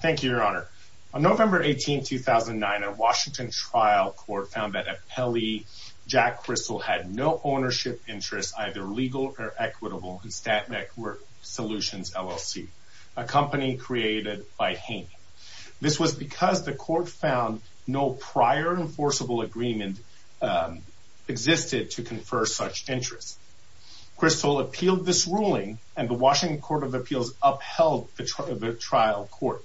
Thank you, Your Honor. On November 18, 2009, a Washington trial court found that appellee Jack Kristol had no ownership interests, either legal or equitable, in StatNet Work Solutions LLC, a company created by Haynie. This was because the court found no prior enforceable agreement existed to confer such interests. Kristol appealed this ruling, and the Washington Court of Appeals upheld the trial court.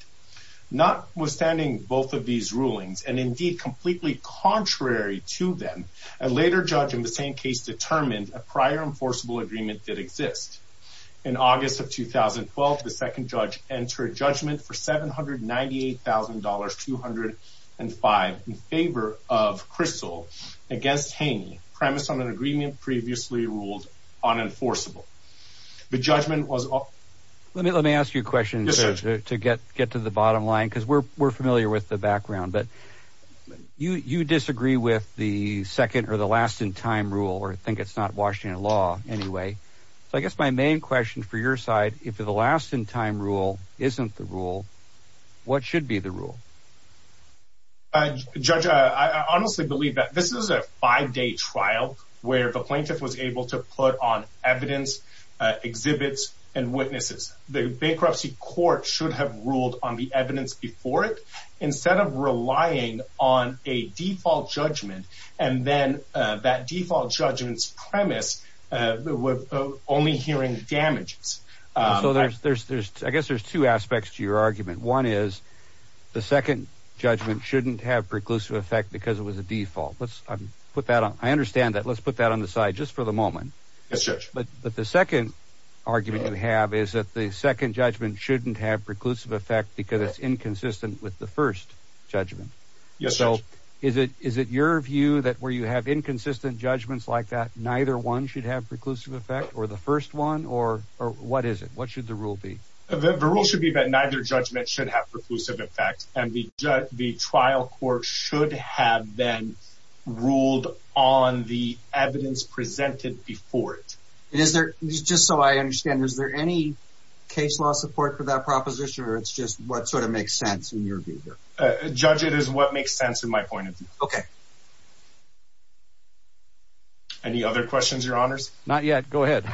Notwithstanding both of these rulings, and indeed completely contrary to them, a later judge in the same case determined a prior enforceable agreement did exist. In August of 2012, the second judge entered judgment for $798,205 in favor of Kristol against Haynie, premise on an agreement previously ruled unenforceable. Judge, I honestly believe that this is a five-day trial where the plaintiff was able to put on evidence, exhibits, and witnesses. The bankruptcy court should have ruled on the evidence before it instead of relying on a default judgment, and then that default judgment's premise with only hearing damages. So there's, I guess there's two aspects to your argument. One is the second judgment shouldn't have preclusive effect because it was a default. Let's put that on. I understand that. Let's put that on the side just for the moment. But the second argument you have is that the second judgment shouldn't have preclusive effect because it's inconsistent with the first judgment. So is it your view that where you have inconsistent judgments like that, neither one should have preclusive effect, or the first one, or what is it? What should the rule be? The rule should be that neither judgment should have preclusive effect, and the trial court should have then ruled on the evidence presented before it. Just so I understand, is there any case law support for that proposition, or it's just what sort of makes sense in your view here? Judge, it is what makes sense in my point of view. Okay. Any other questions, your honors? Not yet. Go ahead.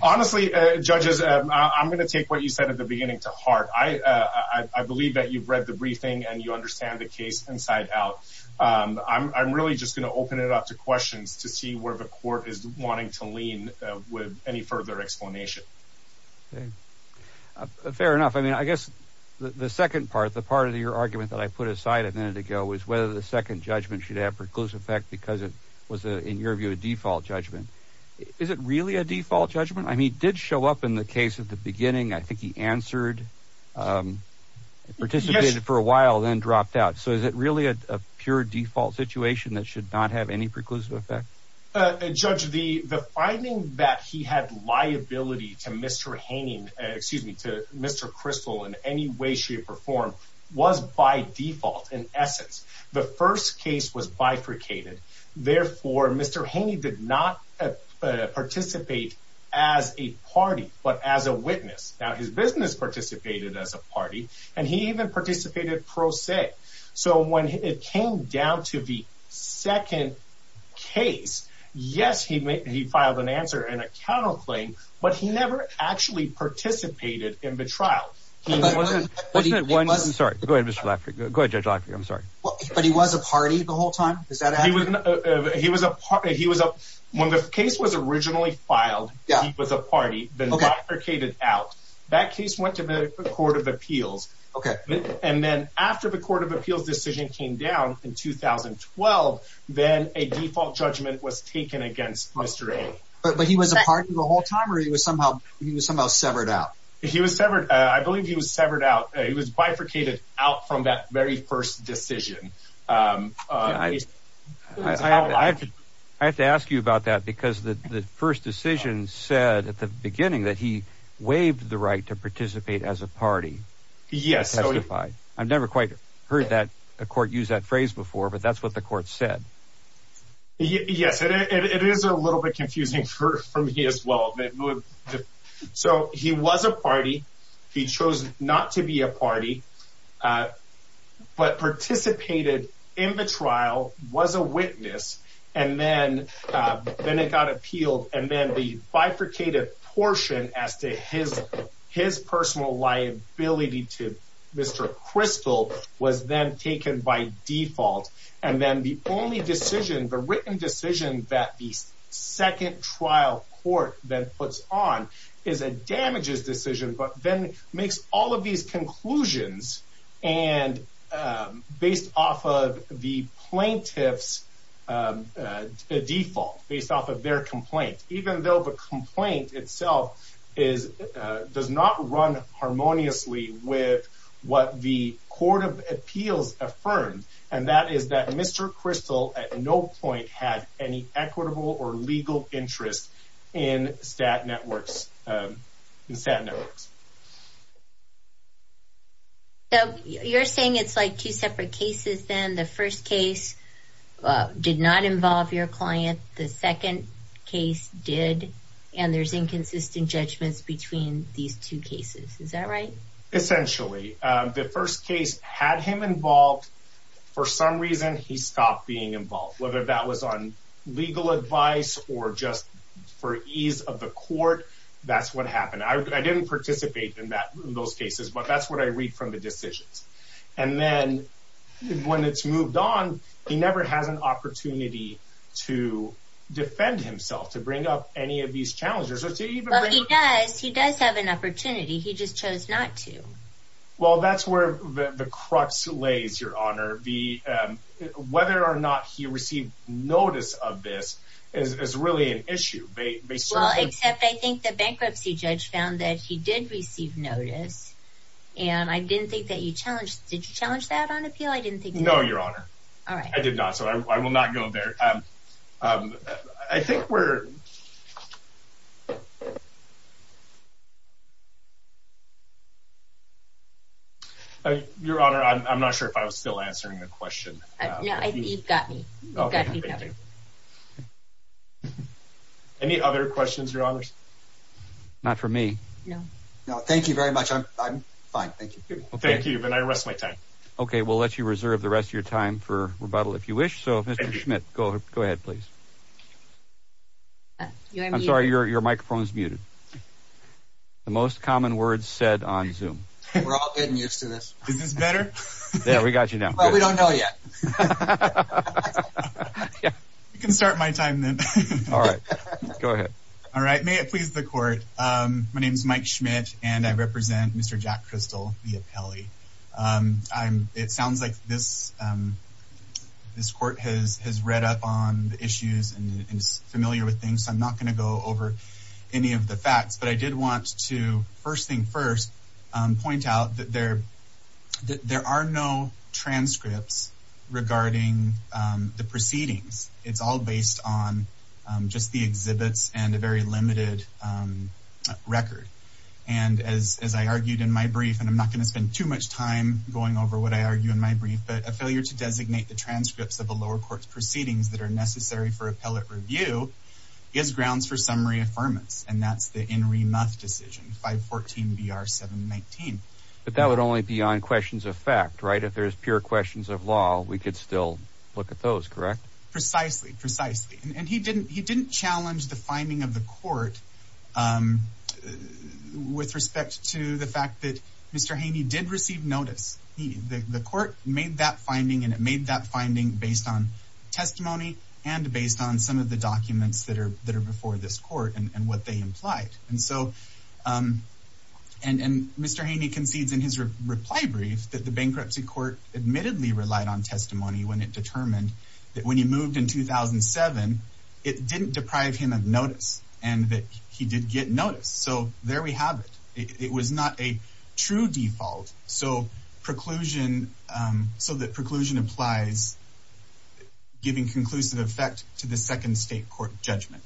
Honestly, judges, I'm going to take what you said at the beginning to heart. I believe that you've read the briefing and you understand the case inside out. I'm really just going to open it up to questions to see where the court is wanting to lean with any further explanation. Fair enough. I mean, I guess the second part, the part of your argument that I put aside a minute ago was whether the second judgment should have preclusive effect because it was, in your view, a default judgment. Is it really a default judgment? I mean, it did show up in the case at the beginning. I think he answered, participated for a while, then dropped out. So is it really a pure default situation that should not have any preclusive effect? Judge, the finding that he had liability to Mr. Haney, excuse me, to Mr. Crystal in any way, shape, or form, was by default in essence. The first case was bifurcated. Therefore, Mr. Haney did not participate as a party, but as a witness. Now, his business participated as a party, and he even participated pro se. So when it came down to the second case, yes, he filed an answer and a counterclaim, but he never actually participated in the trial. He wasn't one. I'm sorry. Go ahead, Mr. Laffer. Go ahead, Judge Laffer. I'm sorry. But he was a party the whole time. Is that he was? He was a party. He was up when the case was originally filed. Yeah, it was a party then bifurcated out. That case went to the Court of Appeals. OK. And then after the Court of Appeals decision came down in 2012, then a default judgment was taken against Mr. Haney. But he was a party the whole time, or he was somehow severed out? He was severed. I believe he was severed out. He was bifurcated out from that very first decision. I have to ask you about that because the first decision said at the beginning that he waived the right to participate as a party. Yes. I've never quite heard that a court use that phrase before, but that's what the court said. Yes, it is a little bit confusing for me as well. So he was a party. He chose not to be a party, but participated in the trial, was a witness, and then it got appealed. And then the bifurcated portion as to his personal liability to Mr. Crystal was then taken by default. And then the only decision, the written decision that the second trial court then puts on is a damages decision, but then makes all of these conclusions based off of the plaintiff's default, based off of their complaint, even though the complaint itself does not run harmoniously with what the court of appeals affirmed, and that is that Mr. Crystal at no point had any equitable or legal interest in stat networks. So you're saying it's like two separate cases then. The first case did not involve your client. The second case did, and there's inconsistent judgments between these two cases. Is that right? Essentially, the first case had him involved. For some reason, he stopped being involved, whether that was on legal advice or just for ease of the court. That's what happened. I didn't participate in those cases, but that's what I read from the decisions. And then when it's moved on, he never has an opportunity to defend himself, to bring up any of these challenges. He does. He does have an opportunity. He just chose not to. Well, that's where the crux lays, Your Honor. Whether or not he received notice of this is really an issue. Except I think the bankruptcy judge found that he did receive notice, and I didn't think that he challenged that. Did you challenge that on appeal? No, Your Honor. I did not, so I will not go there. I think we're... Your Honor, I'm not sure if I was still answering the question. No, you've got me. You've got me covered. Any other questions, Your Honors? Not for me. No. No, thank you very much. I'm fine. Thank you. Thank you, and I rest my time. Okay, we'll let you reserve the rest of your time for rebuttal if you wish. So, Mr. Schmidt, go ahead, please. I'm sorry, your microphone is muted. The most common words said on Zoom. We're all getting used to this. Is this better? Yeah, we got you now. Well, we don't know yet. I can start my time then. All right, go ahead. All right, may it please the Court. My name is Mike Schmidt, and I represent Mr. Jack Viapelli. It sounds like this Court has read up on the issues and is familiar with things, so I'm not going to go over any of the facts. But I did want to, first thing first, point out that there are no transcripts regarding the proceedings. It's all based on just the exhibits and a very I'm not going to spend too much time going over what I argue in my brief, but a failure to designate the transcripts of the lower court's proceedings that are necessary for appellate review is grounds for summary affirmance, and that's the In Re Muff decision, 514 BR 719. But that would only be on questions of fact, right? If there's pure questions of law, we could still look at those, correct? Precisely, precisely. And he didn't challenge the finding of the Court with respect to the fact that Mr. Haney did receive notice. The Court made that finding, and it made that finding based on testimony and based on some of the documents that are before this Court and what they implied. And so, and Mr. Haney concedes in his reply brief that the Bankruptcy Court admittedly relied on testimony when it determined that when he moved in 2007, it didn't deprive him of notice and that he did get notice. So there we have it. It was not a true default. So preclusion, so that preclusion applies, giving conclusive effect to the Second State Court judgment.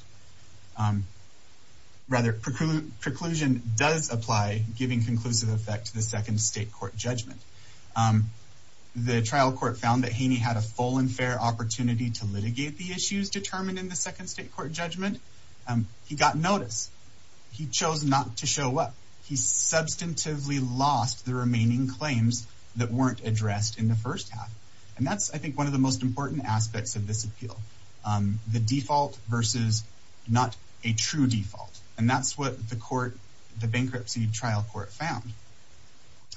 Rather, preclusion does apply, giving conclusive effect to the Second State Court judgment. The trial court found that Haney had a fair opportunity to litigate the issues determined in the Second State Court judgment. He got notice. He chose not to show up. He substantively lost the remaining claims that weren't addressed in the first half. And that's, I think, one of the most important aspects of this appeal, the default versus not a true default. And that's what the court, the Bankruptcy Trial Court found.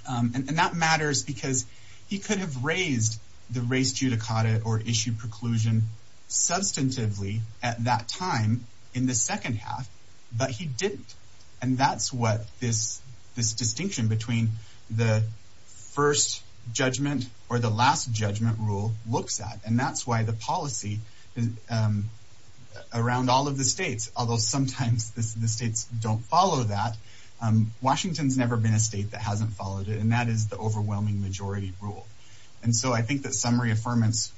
And that matters because he could have raised the race judicata or issue preclusion substantively at that time in the second half, but he didn't. And that's what this distinction between the first judgment or the last judgment rule looks at. And that's why the policy around all of the states, although sometimes the states don't follow that, Washington's never been a state that hasn't followed it. And that is the summary affirmance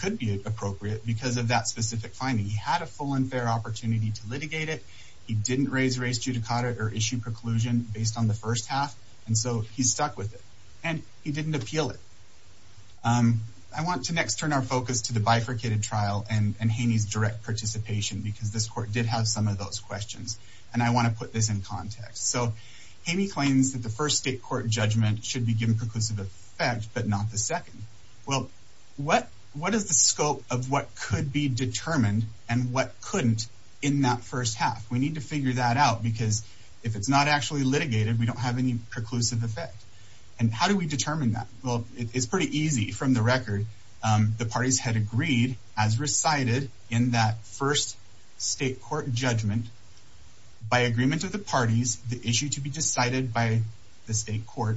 could be appropriate because of that specific finding. He had a full and fair opportunity to litigate it. He didn't raise race judicata or issue preclusion based on the first half. And so he stuck with it. And he didn't appeal it. I want to next turn our focus to the bifurcated trial and Haney's direct participation because this court did have some of those questions. And I want to put this in context. So Haney claims that the what is the scope of what could be determined and what couldn't in that first half? We need to figure that out because if it's not actually litigated, we don't have any preclusive effect. And how do we determine that? Well, it's pretty easy from the record. The parties had agreed as recited in that first state court judgment by agreement of the parties, the issue to be decided by the state court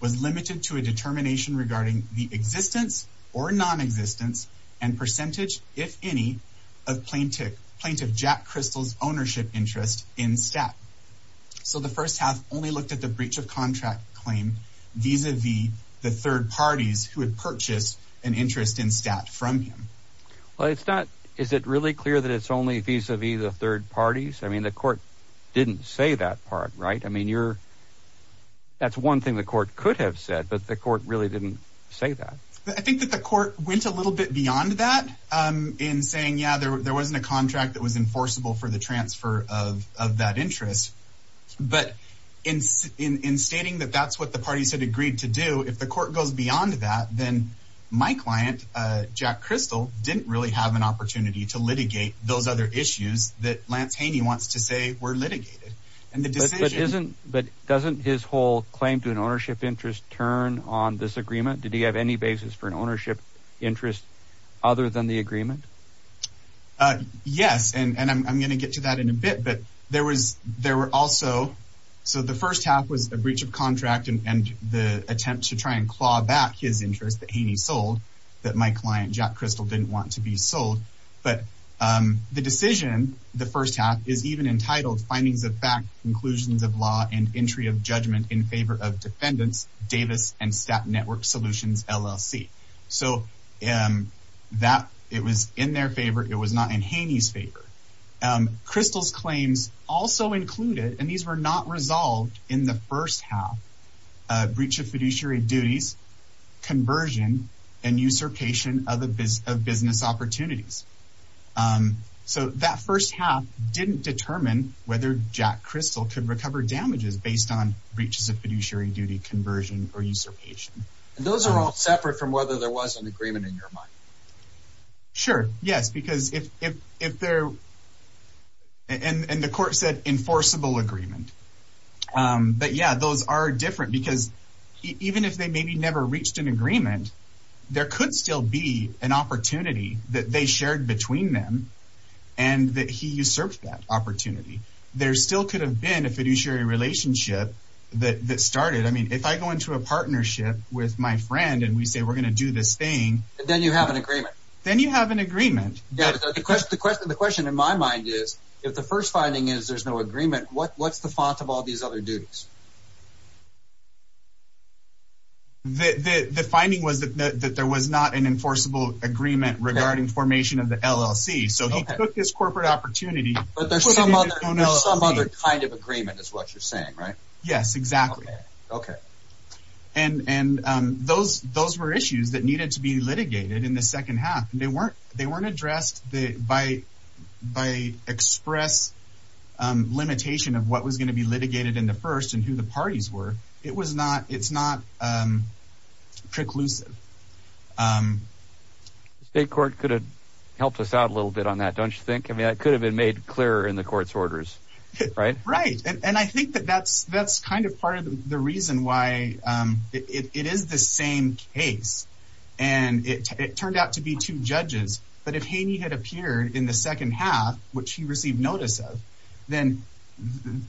was limited to a determination regarding the existence or nonexistence and percentage, if any, of plaintiff plaintiff Jack Crystal's ownership interest in stat. So the first half only looked at the breach of contract claim vis-a-vis the third parties who had purchased an interest in stat from him. Well, it's not. Is it really clear that it's only vis-a-vis the parties? I mean, the court didn't say that part, right? I mean, you're that's one thing the court could have said, but the court really didn't say that. I think that the court went a little bit beyond that in saying, yeah, there wasn't a contract that was enforceable for the transfer of of that interest. But in in stating that that's what the parties had agreed to do, if the court goes beyond that, then my client, Jack Crystal, didn't really have an opportunity to litigate those other issues that Lance Haney wants to say were litigated. But doesn't his whole claim to an ownership interest turn on this agreement? Did he have any basis for an ownership interest other than the agreement? Yes. And I'm going to get to that in a bit. But there was there were also so the first half was a breach of contract and the attempt to try and claw back his interest that Haney sold that my client, Jack Crystal, didn't want to be sold. But the decision, the first half is even entitled findings of fact, conclusions of law and entry of judgment in favor of defendants Davis and Stat Network Solutions LLC. So that it was in their favor. It was not in Haney's favor. Crystal's claims also included and these were not resolved in the first half breach of fiduciary duties, conversion and usurpation of business opportunities. So that first half didn't determine whether Jack Crystal could recover damages based on breaches of fiduciary duty, conversion or usurpation. And those are all separate from whether there was an agreement in your mind. Sure, yes, because if if if there and the court said enforceable agreement. But yeah, those are different because even if they maybe never reached an agreement, there could still be an opportunity that they shared between them and that he usurped that opportunity. There still could have been a fiduciary relationship that that started. I mean, if I go into a partnership with my friend and we say we're going to do this thing, then you have an agreement, then you have an agreement. Yeah, because the question the question in my mind is if the first finding is there's no agreement, what what's the font of all these other duties? The finding was that there was not an enforceable agreement regarding formation of the LLC, so he took his corporate opportunity. But there's some other kind of agreement is what you're saying, right? Yes, exactly. OK. And and those those were issues that needed to be litigated in the second half. They weren't they weren't addressed by by express limitation of what was going to be litigated in the first and who the parties were. It was not it's not preclusive. The state court could have helped us out a little bit on that, don't you think? I mean, it could have been made clearer in the court's orders, right? Right. And I think that that's kind of part of the reason why it is the same case. And it turned out to be two judges. But if Haney had appeared in the second half, which he received notice of, then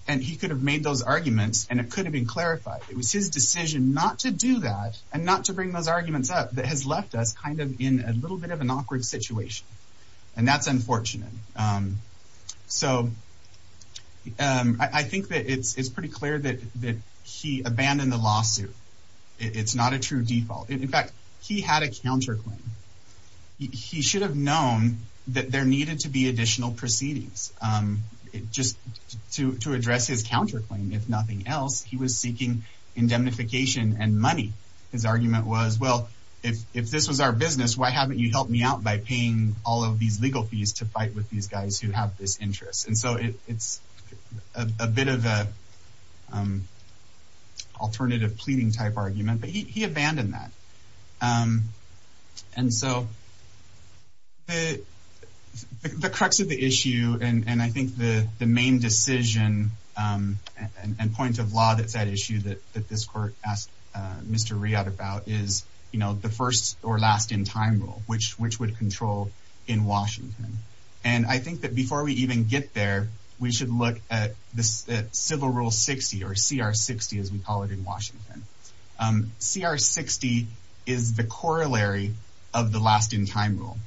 and he could have made those arguments and it could have been clarified. It was his decision not to do that and not to bring those arguments up that has left us kind of in a little bit of an awkward situation. And that's unfortunate. So I think that it's pretty clear that that he abandoned the lawsuit. It's not a true default. In fact, he had a counterclaim. He should have known that there needed to be additional proceedings just to to address his counterclaim. If nothing else, he was seeking indemnification and money. His argument was, well, if if this was our business, why haven't you helped me out by paying all of these legal fees to fight with these guys who have this interest? And so it's a bit of a alternative pleading type argument. But he abandoned that. And so. The crux of the issue, and I think the main decision and point of law that said issue that that this court asked Mr. Riad about is, you know, the first or last in time rule, which which would control in Washington. And I think that before we even get there, we should look at the civil rule 60 or CR 60, as we call it in Washington. CR 60 is the corollary of the last in time rule.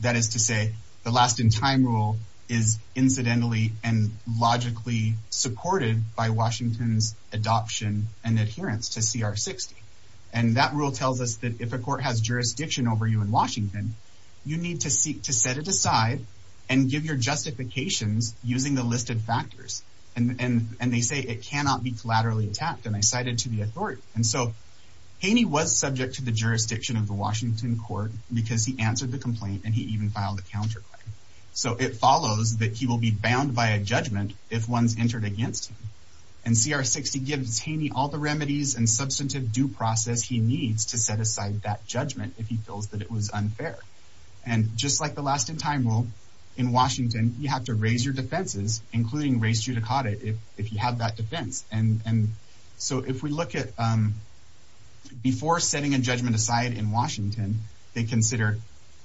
That is to say, the last in time rule is incidentally and logically supported by Washington's adoption and adherence to CR 60. And that rule tells us that if a court has jurisdiction over you in Washington, you need to seek to set it aside and give your justifications using the listed factors. And they say it cannot be collaterally attacked. And I cited to the authority. And so Haney was subject to the jurisdiction of the Washington court because he answered the complaint and he even filed a counterclaim. So it follows that he will be bound by a judgment if one's entered against him. And CR 60 gives Haney all the remedies and substantive due process he needs to set aside that judgment if he feels that it was unfair. And just like the last in time rule in Washington, you have to raise your defenses, including raise judicata if you have that defense. And so if we look at before setting a judgment aside in Washington, they consider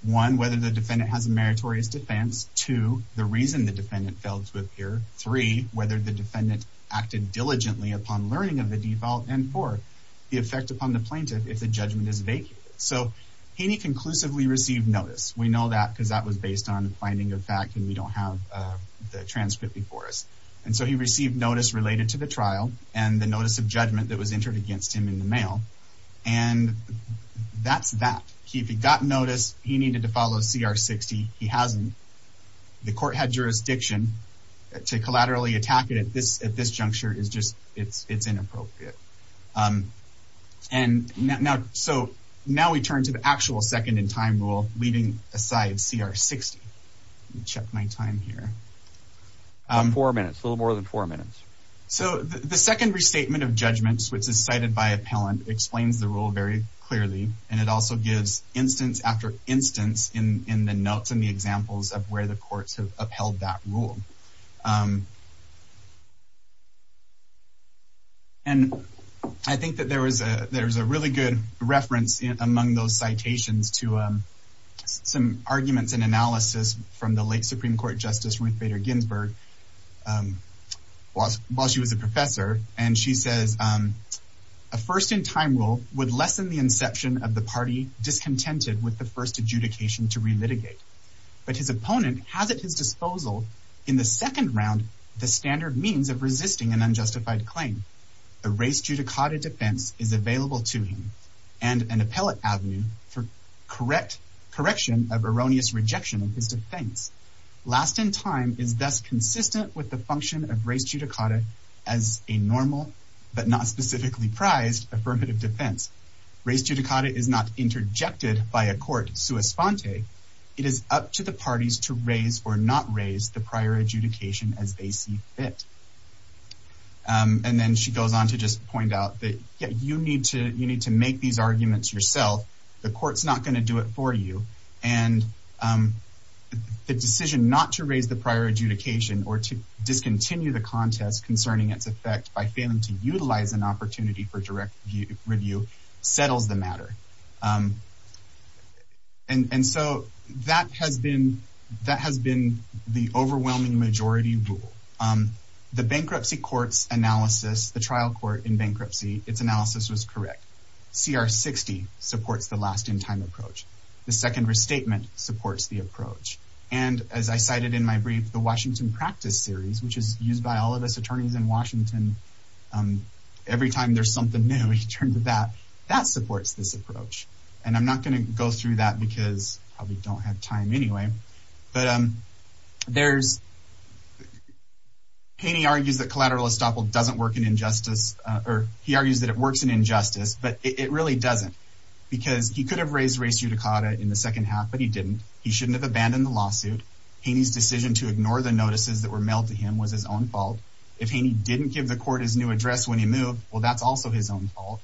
one, whether the defendant has a meritorious defense. Two, the reason the defendant failed to appear. Three, whether the defendant acted diligently upon learning of the default. And four, the effect upon the plaintiff if the judgment is vacant. So Haney conclusively received notice. We know that because that was based on the finding of fact and we don't have the transcript before us. And so he received notice related to the trial and the notice of judgment that was entered against him in the mail. And that's that. He got notice. He needed to follow CR 60. He hasn't. The court had jurisdiction to collaterally attack it at this juncture. It's just, it's inappropriate. And so now we turn to the actual second in time rule, leaving aside CR 60. Let me check my time here. Four minutes, a little more than four minutes. So the second restatement of judgments, which is cited by appellant, explains the rule very clearly. And it also gives instance after instance in, in the notes and the examples of where the courts have upheld that rule. And I think that there was a, there was a really good reference among those citations to some arguments and analysis from the late Supreme Court Justice Ruth Bader Ginsburg while she was a professor. And she says, a first in time rule would lessen the inception of the party discontented with the first adjudication to relitigate. But his opponent has at his disposal in the second round, the standard means of resisting an unjustified claim. The race judicata defense is available to him and an appellate avenue for correct correction of erroneous rejection of his defense. Last in time is thus consistent with the function of race judicata as a normal, but not specifically prized affirmative defense. Race judicata is not interjected by a court sua sponte. It is up to the parties to raise or not raise the prior adjudication as they see fit. And then she goes on to just point out that you need to make these arguments yourself. The court's not going to do it for you. And the decision not to raise the prior adjudication or to discontinue the contest concerning its effect by failing to utilize an opportunity for direct review settles the matter. And so that has been the overwhelming majority rule. The bankruptcy courts analysis, the trial court in bankruptcy, its analysis was correct. CR 60 supports the last in time approach. The second restatement supports the approach. And as I cited in my brief, the Washington practice series, which is used by all of us attorneys in Washington, every time there's something new in terms of that, that supports this approach. And I'm not going to go through that because probably don't have time anyway. But there's, Haney argues that collateral estoppel doesn't work in injustice or he argues that it works in injustice, but it really doesn't because he could have raised race judicata in the second half, but he didn't. He shouldn't have abandoned the lawsuit. Haney's decision to ignore the notices that were mailed to him was his own fault. If Haney didn't give the court his new address when he moved, well, that's also his own fault.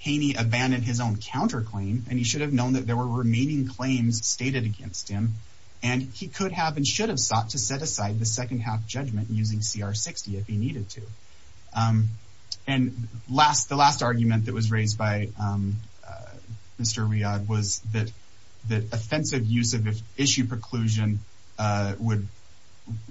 Haney abandoned his own counterclaim and he should have known that there were remaining claims stated against him. And he could have and should have sought to set aside the second half judgment using CR 60 if he needed to. And the last argument that was raised by Mr. Riad was that offensive use of issue preclusion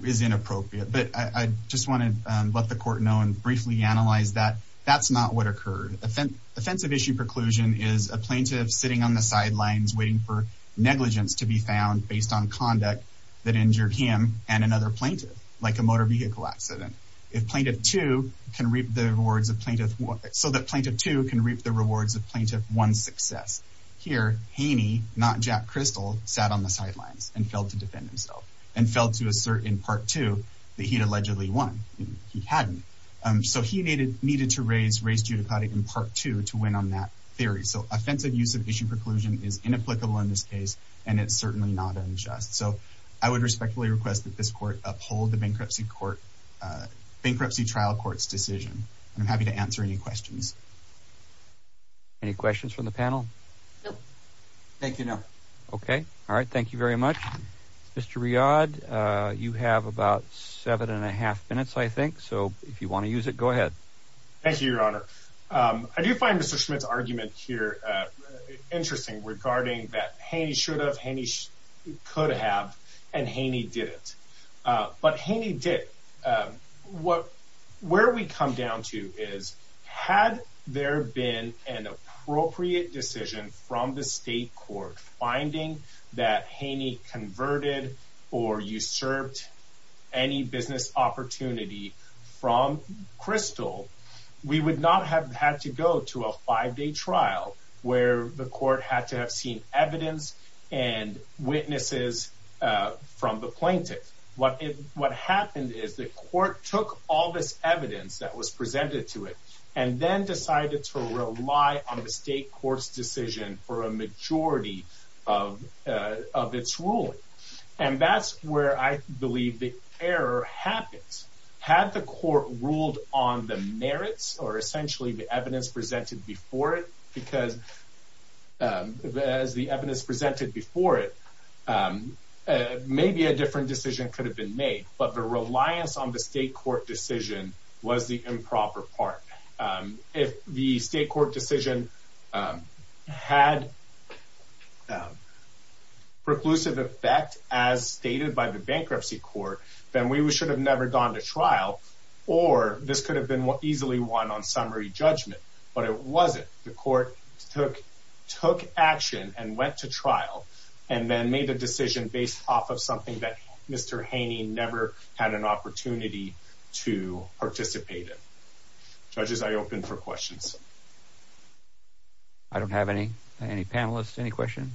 is inappropriate. But I just want to let the court know and briefly analyze that that's not what occurred. Offensive issue preclusion is a plaintiff sitting on the sidelines waiting for negligence to be found based on him and another plaintiff, like a motor vehicle accident. If Plaintiff 2 can reap the rewards of Plaintiff 1, so that Plaintiff 2 can reap the rewards of Plaintiff 1's success. Here, Haney, not Jack Crystal, sat on the sidelines and failed to defend himself and failed to assert in Part 2 that he'd allegedly won. He hadn't. So he needed to raise race judicata in Part 2 to win on that theory. So offensive use of issue preclusion is inapplicable in this case and it's certainly not that this court uphold the bankruptcy trial court's decision. I'm happy to answer any questions. Any questions from the panel? No. Thank you, no. Okay. All right. Thank you very much. Mr. Riad, you have about seven and a half minutes, I think. So if you want to use it, go ahead. Thank you, Your Honor. I do find Mr. Schmidt's argument here interesting regarding that Haney should have, Haney could have, and Haney didn't. But Haney did. Where we come down to is, had there been an appropriate decision from the state court finding that Haney converted or usurped any business opportunity from Crystal, we would not have had to go to a five-day trial where the court had to have seen evidence and witnesses from the plaintiff. What happened is the court took all this evidence that was presented to it and then decided to rely on the state court's decision for a majority of its ruling. And that's where I believe the error happens. Had the court ruled on the merits or essentially the evidence presented before it, because as the evidence presented before it, maybe a different decision could have been made, but the reliance on the state court decision was the improper part. If the state court decision had preclusive effect as stated by the bankruptcy court, then we should have never gone to trial, or this could have been easily won on summary judgment. But it wasn't. The court took action and went to trial and then made a decision based off of something that Mr. Haney never had an opportunity to participate in. Judges, I open for questions. I don't have any panelists. Any questions?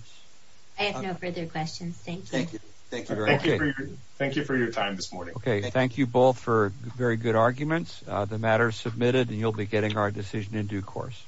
I have no further questions. Thank you. Thank you. Thank you for your time this morning. Okay. Thank you both for very good arguments. The matter is submitted and you'll be getting our decision in due course.